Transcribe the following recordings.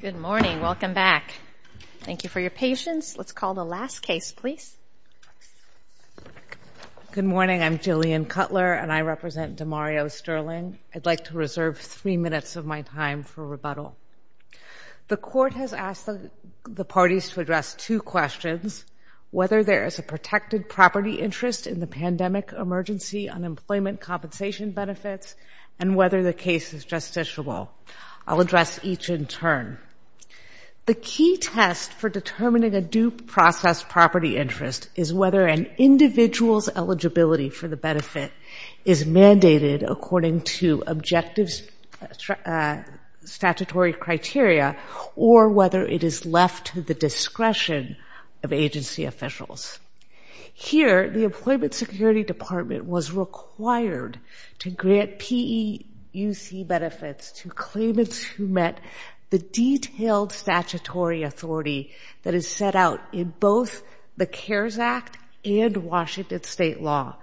Good morning. Welcome back. Thank you for your patience. Let's call the last case, please. Good morning. I'm Jillian Cutler and I represent DeMario Sterling. I'd like to reserve three minutes of my time for rebuttal. The court has asked the parties to address two questions, whether there is a protected property interest in the pandemic emergency unemployment compensation benefits and whether the case is justiciable. I'll address each in turn. The key test for determining a due process property interest is whether an individual's eligibility for the benefit is mandated according to objective statutory criteria or whether it is left to the discretion of agency officials. Here, the employment security department was required to grant PEUC benefits to claimants who met the detailed statutory authority that is set out in both the CARES Act and Washington state law.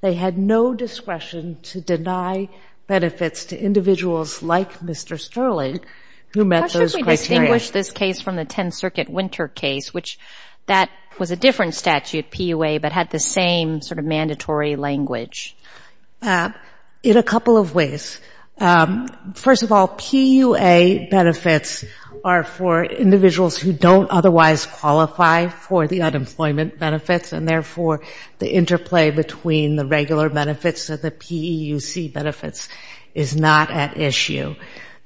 They had no discretion to deny benefits to individuals like Mr. Sterling who met those criteria. How should we distinguish this case from the 10th Circuit Winter case, which that was a statute, PUA, but had the same sort of mandatory language? In a couple of ways. First of all, PUA benefits are for individuals who don't otherwise qualify for the unemployment benefits and therefore the interplay between the regular benefits of the PEUC benefits is not at issue.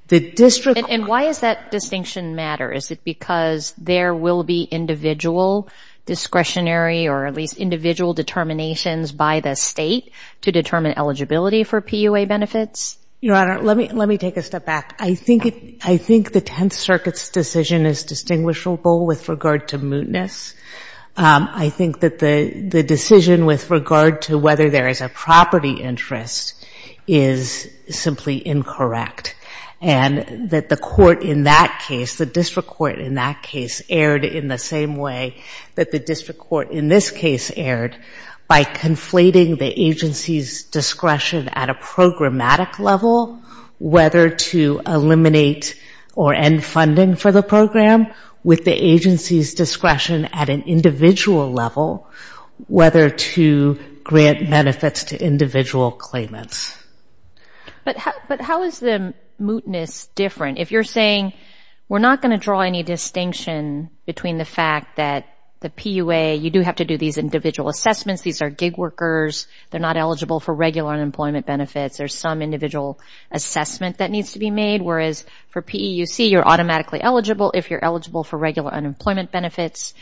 The district And why does that distinction matter? Is it because there will be individual discretionary or at least individual determinations by the state to determine eligibility for PUA benefits? Your Honor, let me take a step back. I think the 10th Circuit's decision is distinguishable with regard to mootness. I think that the decision with regard to whether there is a property interest is simply incorrect. And that the court in that case, the district court in that case erred in the same way that the district court in this case erred by conflating the agency's discretion at a programmatic level, whether to eliminate or end funding for the program, with the agency's discretion at an individual level, whether to grant benefits to individual claimants. But how is the mootness different? If you're saying we're not going to draw any distinction between the fact that the PUA, you do have to do these individual assessments, these are gig workers, they're not eligible for regular unemployment benefits, there's some individual assessment that needs to be made, whereas for PEUC you're automatically eligible if you're eligible for regular unemployment benefits.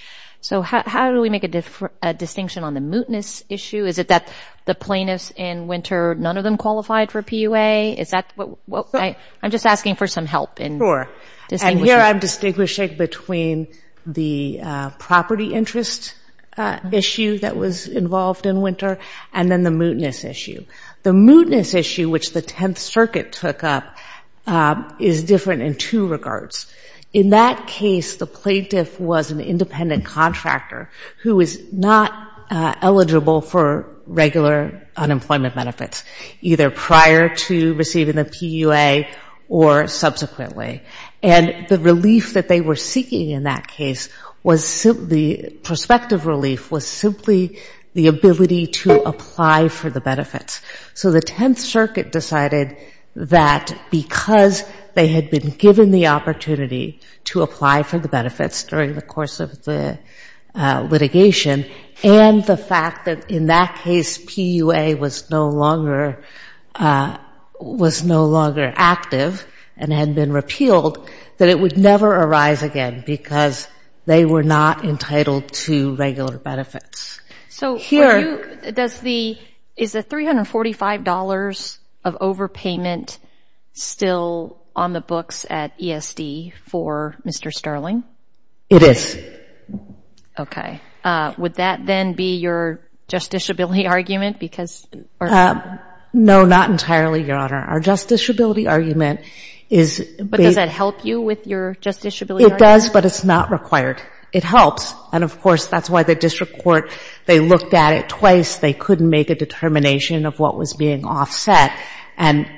So how do we make a distinction on the mootness issue? Is it that the plaintiffs in winter, none of them qualified for PUA? Is that what? I'm just asking for some help in distinguishing. Sure. And here I'm distinguishing between the property interest issue that was involved in winter and then the mootness issue. The mootness issue, which the 10th Circuit took up, is different in two regards. In that case, the plaintiff was an independent contractor who is not eligible for regular unemployment benefits, either prior to receiving the PUA or subsequently. And the relief that they were seeking in that case was simply, prospective relief was simply the ability to apply for the benefits. So the 10th Circuit decided that because they had been given the opportunity to apply for the benefits during the course of the litigation and the fact that in that case PUA was no longer active and had been repealed, that it would never arise again because they were not entitled to regular benefits. So is the $345 of overpayment still on the books at ESD for Mr. Sterling? It is. Okay. Would that then be your justiciability argument? No, not entirely, Your Honor. Our justiciability argument is But does that help you with your justiciability argument? It does, but it's not required. It helps. And of course, that's why the district court, they looked at it twice. They couldn't make a determination of what was being offset and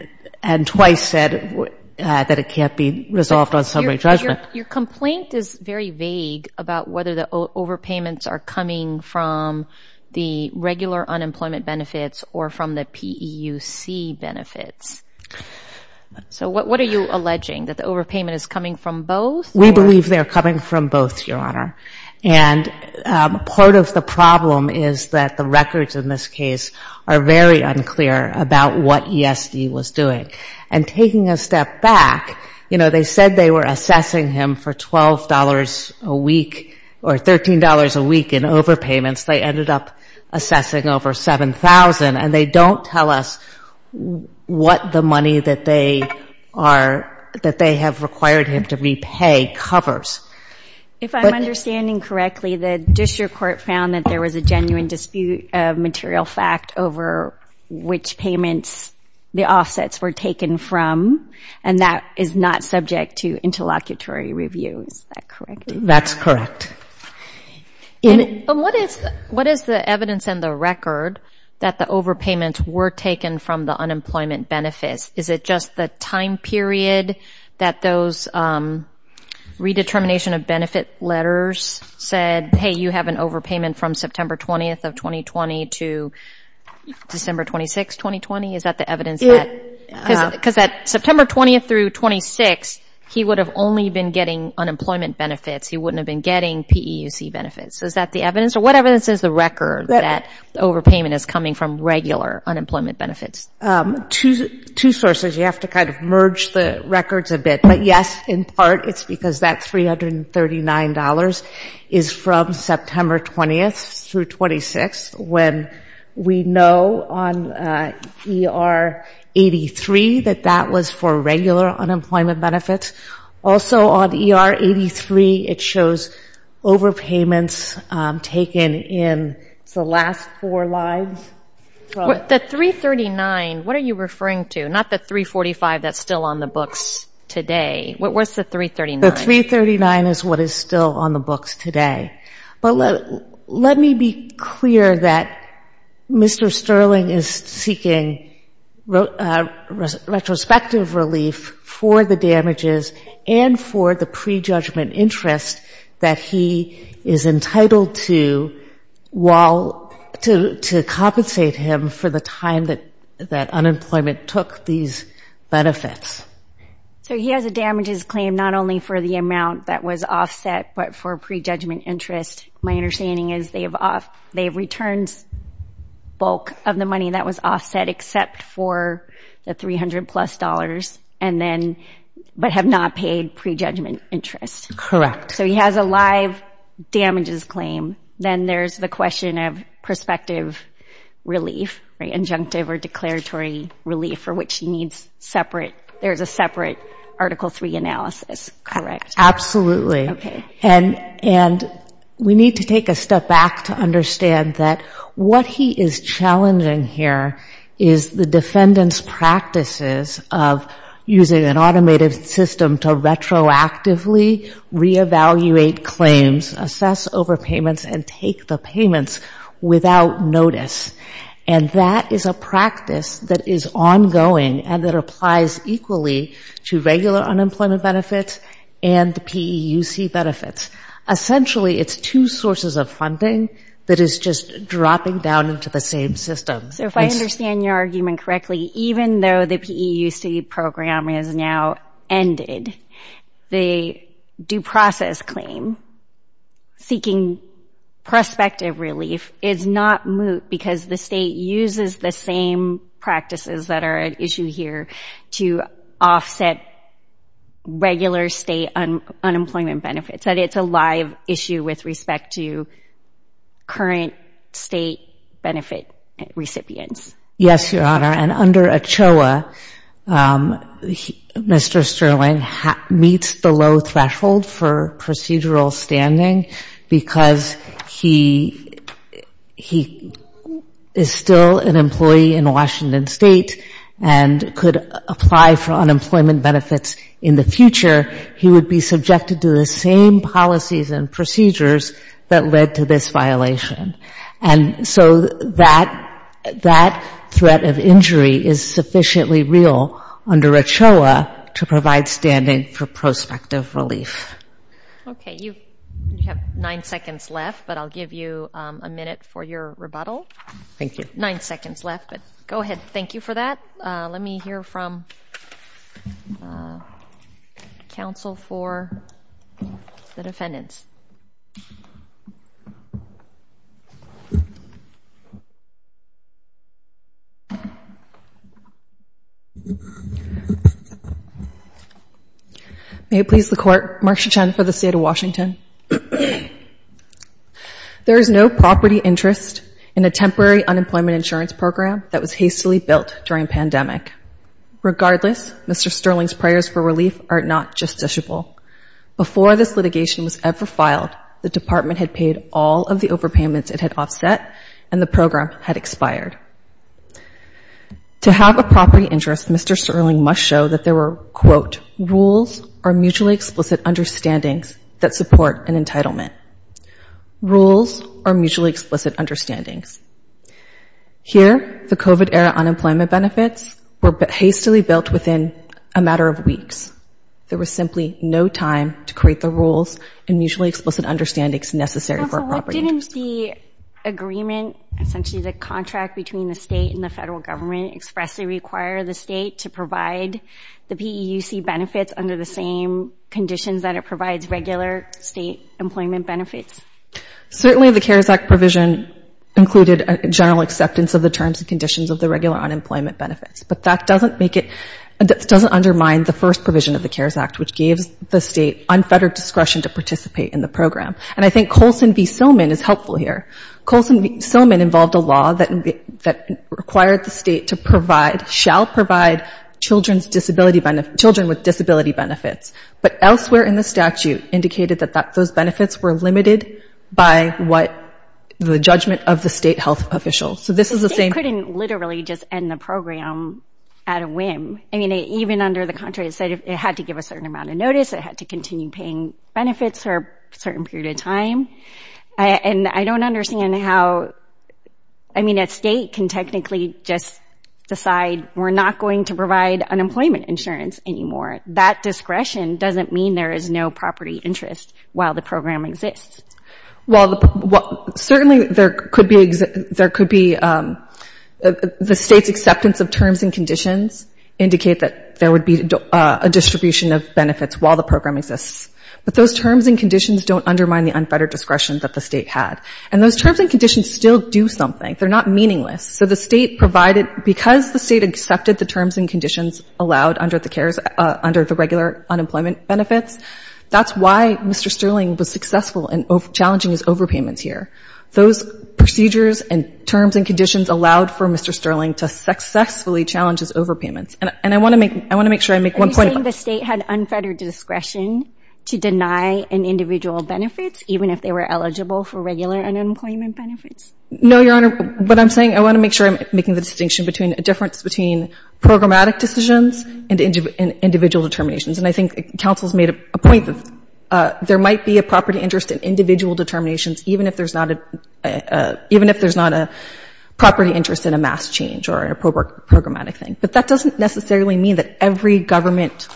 twice said that it can't be resolved on summary judgment. Your complaint is very vague about whether the overpayments are coming from the regular unemployment benefits or from the PEUC benefits. So what are you alleging, that the overpayment is coming from both? We believe they are coming from both, Your Honor. And part of the problem is that the records in this case are very unclear about what ESD was doing. And taking a step back, they said they were assessing him for $12 a week or $13 a week in overpayments. They ended up assessing over $7,000. And they don't tell us what the money that they have required him to repay covers. If I'm understanding correctly, the district court found that there was a genuine dispute of material fact over which payments the offsets were taken from. And that is not subject to interlocutory review. Is that correct? That's correct. What is the evidence in the record that the overpayments were taken from the unemployment benefits? Is it just the time period that those redetermination of benefit letters said, hey, you have an overpayment from September 20th of 2020 to December 26th, 2020? Is that the evidence? Because that September 20th through 26th, he would have only been getting unemployment benefits. He wouldn't have been getting PEUC benefits. Is that the evidence? Or what evidence is the record that overpayment is coming from regular unemployment benefits? Two sources. You have to kind of merge the records a bit. But yes, in part, it's because that $339 is from September 20th through 26th when we know on ER 83 that that was for regular unemployment benefits. Also on ER 83, it shows overpayments taken in the last four lines. The 339, what are you referring to? Not the 345 that's still on the books today. What's the 339? The 339 is what is still on the books today. But let me be clear that Mr. Sterling is seeking retrospective relief for the damages and for the prejudgment interest that he is entitled to while to compensate him for the time that unemployment took these damages. Not only for the amount that was offset but for prejudgment interest. My understanding is they've returned bulk of the money that was offset except for the $300 plus but have not paid prejudgment interest. Correct. So he has a live damages claim. Then there's the question of prospective relief, injunctive or declaratory relief for which he needs separate Article III analysis. Correct. Absolutely. And we need to take a step back to understand that what he is challenging here is the defendant's practices of using an automated system to retroactively reevaluate claims, assess overpayments and take the payments without notice. And that is a practice that is ongoing and that applies equally to regular unemployment benefits and the PEUC benefits. Essentially it's two sources of funding that is just dropping down into the same system. So if I understand your argument correctly, even though the PEUC program has now ended, the due process claim seeking prospective relief is not moot because the same practices that are at issue here to offset regular state unemployment benefits. That it's a live issue with respect to current state benefit recipients. Yes, Your Honor. And under ACHOA, Mr. Sterling meets the low threshold for procedural standing because he is still an employee in Washington State and could apply for unemployment benefits in the future. He would be subjected to the same policies and procedures that led to this violation. And so that threat of injury is sufficiently real under ACHOA to provide standing for prospective relief. Okay, you have nine seconds left, but I'll give you a minute for your rebuttal. Thank you. Nine seconds left, but go ahead. Thank you for that. Let me hear from counsel for the defendants. Thank you, Your Honor. I just want to make sure that I'm getting this right. May it please the Court, Marcia Chen for the State of Washington. There is no property interest in a temporary unemployment insurance program that was hastily built during pandemic. Regardless, Mr. Sterling's prayers for relief are not justiciable. Before this litigation was ever filed, the department had paid all of the overpayments it had offset and the program had expired. To have a property interest, Mr. Sterling must show that there were, quote, rules or mutually explicit understandings that support an entitlement. Rules or mutually explicit understandings. Here, the COVID-era unemployment benefits were hastily built within a matter of weeks. There was simply no time to create the rules and mutually explicit understandings necessary for a property interest. Counsel, what didn't the agreement, essentially the contract between the state and the federal government expressly require the state to provide the PEUC benefits under the same conditions that it provides regular state employment benefits? Certainly, the CARES Act provision included a general acceptance of the terms and conditions of the regular unemployment benefits, but that doesn't make it doesn't undermine the first provision of the CARES Act, which gives the state unfettered discretion to participate in the program. And I think Colson v. Sillman is helpful here. Colson v. Sillman involved a law that required the state to provide, shall provide, children's disability benefits, children with disability benefits, but elsewhere in the statute indicated that those benefits were limited by what the judgment of the state health official. So this is the same- The state couldn't literally just end the program at a whim. I mean, even under the contract, it said it had to give a certain amount of notice, it had to continue paying benefits for a certain period of time. And I don't understand how, I mean, a state can technically just decide we're not going to provide unemployment insurance anymore. That discretion doesn't mean there is no property interest while the program exists. Well, certainly there could be, there could be, the state's acceptance of terms and conditions indicate that there would be a distribution of benefits while the program exists. But those terms and conditions don't undermine the unfettered discretion that the state had. And those terms and conditions still do something. They're not meaningless. So the state provided, because the state accepted the terms and conditions allowed under the CARES, under the regular unemployment benefits, that's why Mr. Sterling was successful in challenging his overpayments here. Those procedures and terms and conditions allowed for Mr. Sterling to successfully challenge his overpayments. And I want to make, I want to make sure I make one point about Are you saying the state had unfettered discretion to deny an individual benefits even if they were eligible for regular unemployment benefits? No, Your Honor. What I'm saying, I want to make sure I'm making the distinction between a difference between programmatic decisions and individual determinations. And I think counsel's made a point that there might be a property interest in individual determinations even if there's not a, even if there's not a property interest in a mass change or a programmatic thing. But that doesn't necessarily mean that every government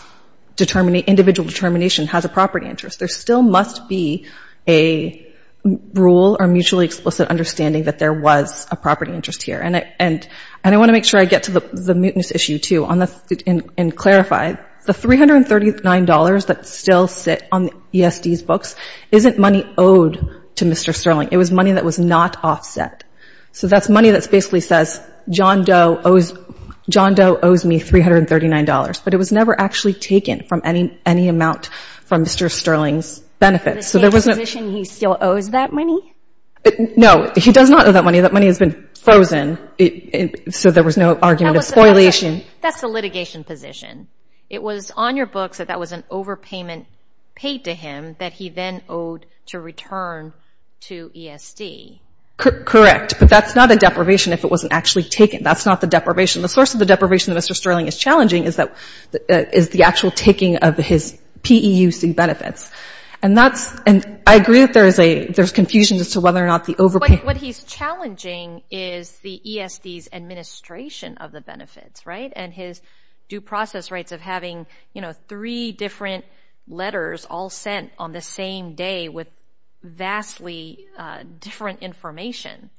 individual determination has a property interest. There still must be a rule or mutually explicit understanding that there was a property interest here. And I want to make sure I get to the mootness issue, too, and clarify. The $339 that still sit on the ESD's books isn't money owed to Mr. Sterling. It was money that was not offset. So that's money that basically says John Doe owes me $339. But it was never actually taken from any amount from Mr. Sterling's benefits. The state's position he still owes that money? No, he does not owe that money. That money has been frozen. So there was no argument of spoliation. That's the litigation position. It was on your books that that was an overpayment paid to him that he then owed to return to ESD. Correct. But that's not a deprivation if it wasn't actually taken. That's not the deprivation. The source of the deprivation that Mr. Sterling is challenging is the actual taking of his PEUC benefits. And I agree that there's confusion as to whether or not the overpayment... But what he's challenging is the ESD's administration of the benefits, right? And his due process rights of having three different letters all sent on the same day with vastly different information.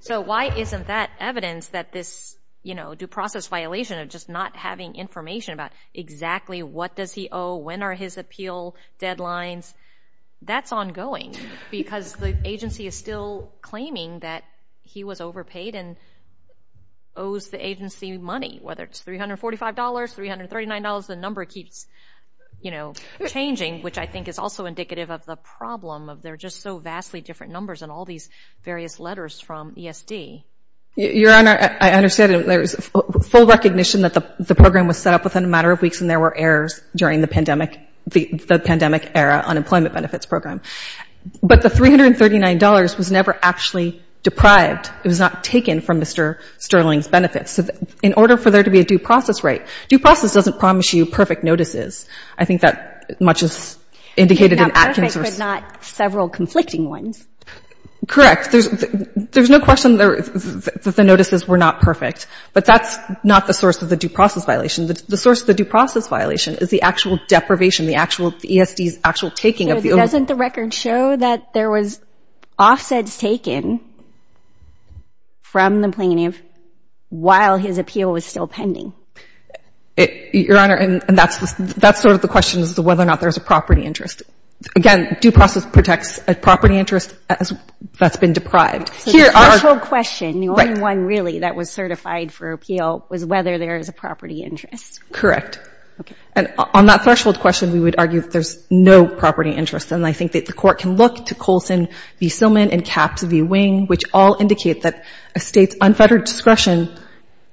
So why isn't that evidence that this due process violation of just not having information about exactly what does he owe, when are his appeal deadlines? That's ongoing because the agency is still claiming that he was overpaid and owes the agency money. Whether it's $345, $339, the number keeps changing, which I think is also indicative of the problem of they're just so vastly different numbers and all these various letters from ESD. Your Honor, I understand there was full recognition that the program was set up within a matter of weeks and there were errors during the pandemic era unemployment benefits program. But the $339 was never actually deprived. It was not taken from Mr. Sterling's benefits. In order for there to be a due process right, due process doesn't promise you perfect notices. I think that much is indicated in Atkins' source. Not perfect, but not several conflicting ones. Correct. There's no question that the notices were not perfect. But that's not the source of the due process violation. The source of the due process violation is the actual deprivation, the actual ESD's actual taking of the over... So doesn't the record show that there was offsets taken from the plaintiff while his appeal was still pending? Your Honor, and that's sort of the question, is whether or not there's a property interest. Again, due process protects a property interest that's been deprived. So the threshold question, the only one really that was certified for appeal was whether there is a property interest. Correct. And on that threshold question, we would argue that there's no property interest. And I think that the court can look to Colson v. Silman and Capps v. Wing, which all indicate that a state's unfettered discretion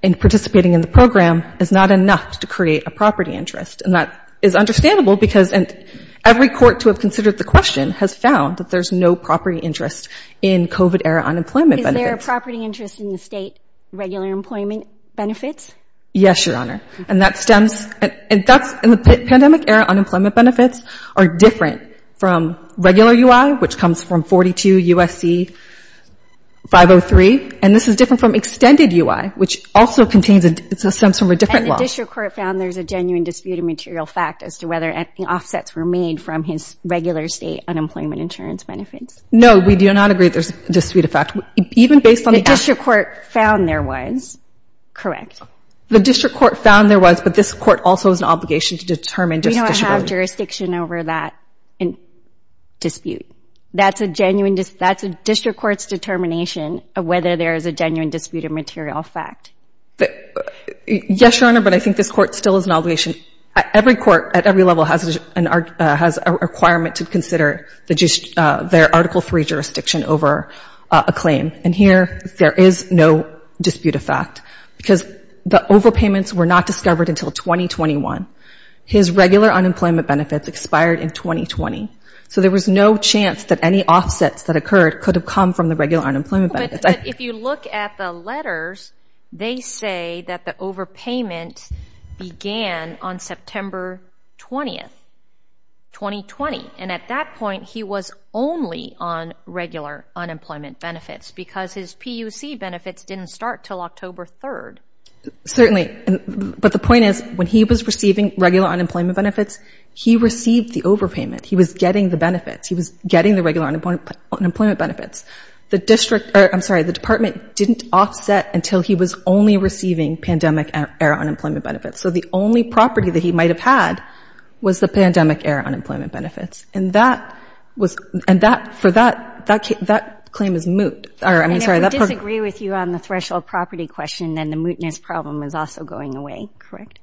in participating in the program is not enough to create a property interest. And that is understandable because every court to have considered the question has found that there's no property interest in COVID-era unemployment benefits. Is there a property interest in the state regular employment benefits? Yes, Your Honor. And that stems... And the pandemic-era unemployment benefits are different from regular UI, which comes from 42 U.S.C. 503. And this is different from extended UI, which also contains... It stems from a different law. And the district court found there's a genuine dispute of material fact as to whether offsets were made from his regular state unemployment insurance benefits. No, we do not agree there's a dispute of fact. Even based on the... The district court found there was. Correct. The district court found there was, but this court also has an obligation to determine We don't have jurisdiction over that dispute. That's a district court's determination of whether there is a genuine dispute of material fact. Yes, Your Honor, but I think this court still has an obligation. Every court at every level has a requirement to consider their Article III jurisdiction over a claim. And here, there is no dispute of fact because the overpayments were not discovered until 2021. His regular unemployment benefits expired in 2020. So there was no chance that any offsets that occurred could have come from the regular unemployment benefits. But if you look at the letters, they say that the overpayment began on September 20th, 2020. And at that point, he was only on regular unemployment benefits because his PUC benefits didn't start till October 3rd. Certainly, but the point is, when he was receiving regular unemployment benefits, he received the overpayment. He was getting the benefits. He was getting the regular unemployment benefits. The district, I'm sorry, the department didn't offset until he was only receiving pandemic-era unemployment benefits. So the only property that he might have had was the pandemic-era unemployment benefits. And that was, and that, for that, that claim is moot. I'm sorry, that part- And if we disagree with you on the threshold property question, then the mootness problem is also going away, correct?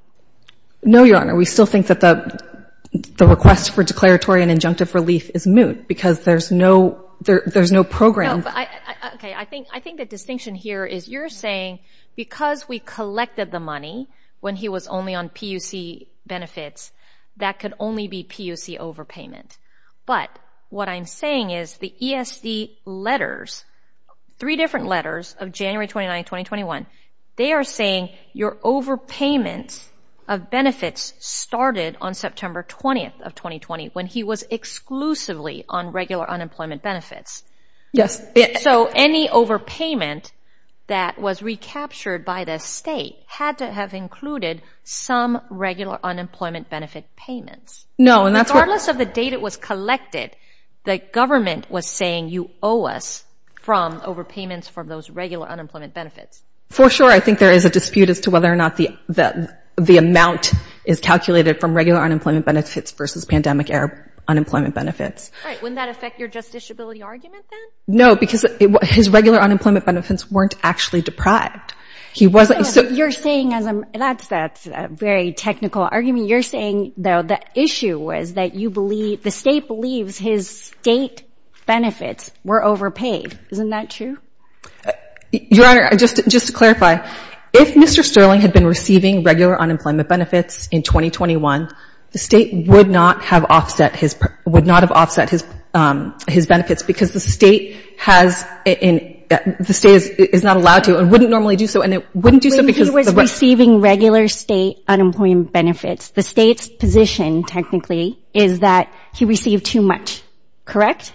No, Your Honor. We still think that the request for declaratory and injunctive relief is moot because there's no, there's no program. No, but I, okay, I think, I think the distinction here is you're saying because we collected the money when he was only on PUC benefits, that could only be PUC overpayment. But what I'm saying is the ESD letters, three different letters of January 29, 2021, they are saying your overpayments of benefits started on September 20th of 2020 when he was exclusively on regular unemployment benefits. Yes. So any overpayment that was recaptured by the state had to have included some regular unemployment benefit payments. No, and that's what- When the money was collected, the government was saying you owe us from overpayments for those regular unemployment benefits. For sure, I think there is a dispute as to whether or not the, the, the amount is calculated from regular unemployment benefits versus pandemic-era unemployment benefits. All right, wouldn't that affect your justiciability argument then? No, because his regular unemployment benefits weren't actually deprived. He wasn't, so- You're saying as a, that's, that's a very technical argument. You're saying, though, the issue was that you believe, the state believes his state benefits were overpaid. Isn't that true? Your Honor, just, just to clarify, if Mr. Sterling had been receiving regular unemployment benefits in 2021, the state would not have offset his, would not have offset his, his benefits because the state has, and the state is not allowed to, and wouldn't normally do so, and it wouldn't do so because- He was receiving regular state unemployment benefits. The state's position, technically, is that he received too much, correct?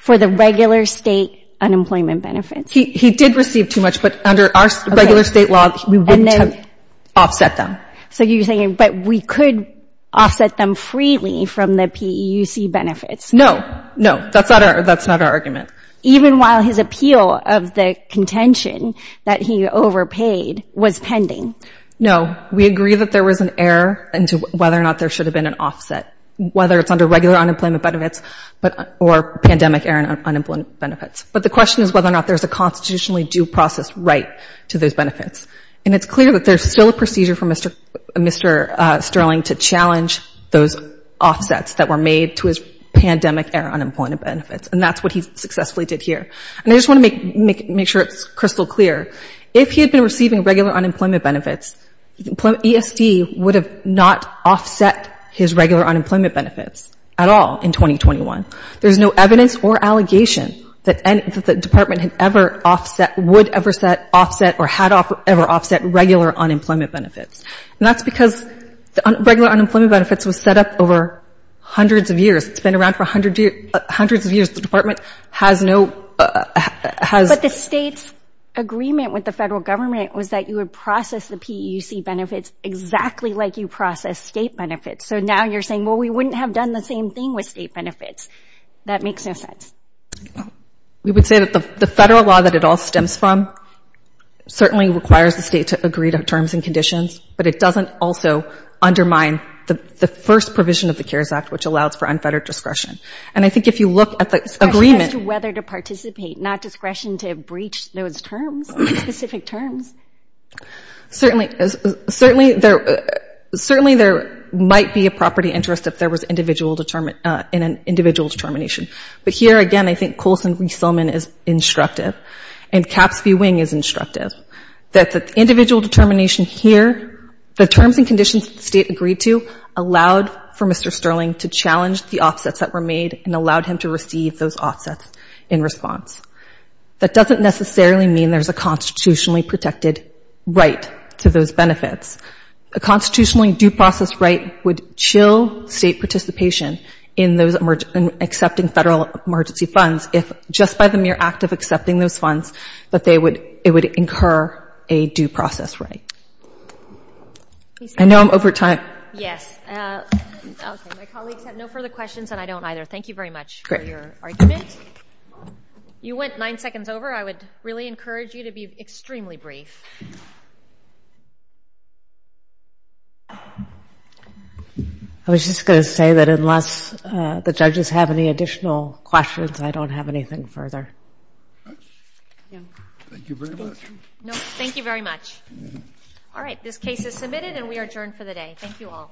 For the regular state unemployment benefits. He, he did receive too much, but under our regular state law, we wouldn't have offset them. So you're saying, but we could offset them freely from the PEUC benefits. No, no, that's not our, that's not our argument. Even while his appeal of the contention that he overpaid was pending. No, we agree that there was an error into whether or not there should have been an offset, whether it's under regular unemployment benefits, but, or pandemic error and unemployment benefits. But the question is whether or not there's a constitutionally due process right to those benefits. And it's clear that there's still a procedure for Mr., Mr. Sterling to challenge those offsets that were made to his pandemic error unemployment benefits. And that's what he successfully did here. And I just want to make, make, make sure it's crystal clear. If he had been receiving regular unemployment benefits, ESD would have not offset his regular unemployment benefits at all in 2021. There's no evidence or allegation that any, that the department had ever offset, would ever set, offset, or had ever offset regular unemployment benefits. And that's because the regular unemployment benefits was set up over hundreds of years. It's been around for a hundred years, hundreds of years. The department has no, has. But the state's agreement with the federal government was that you would process the PEUC benefits exactly like you process state benefits. So now you're saying, well, we wouldn't have done the same thing with state benefits, that makes no sense. We would say that the, the federal law that it all stems from certainly requires the state to agree to terms and conditions. But it doesn't also undermine the, the first provision of the CARES Act, which allows for unfettered discretion. And I think if you look at the agreement. Discretion as to whether to participate, not discretion to breach those terms, specific terms. Certainly, certainly there, certainly there might be a property interest if there was individual, in an individual determination. But here again, I think Coulson v. Sillman is instructive, and Caps v. Wing is instructive. That the individual determination here, the terms and conditions that the state agreed to, allowed for Mr. Sterling to challenge the offsets that were made and allowed him to receive those offsets in response. That doesn't necessarily mean there's a constitutionally protected right to those benefits. A constitutionally due process right would chill state participation in those accepting federal emergency funds if just by the mere act of accepting those funds that they would, it would incur a due process right. I know I'm over time. Yes. Okay, my colleagues have no further questions and I don't either. Thank you very much for your argument. You went nine seconds over. I would really encourage you to be extremely brief. I was just going to say that unless the judges have any additional questions, I don't have anything further. Thank you very much. No, thank you very much. All right, this case is submitted and we are adjourned for the day. Thank you all.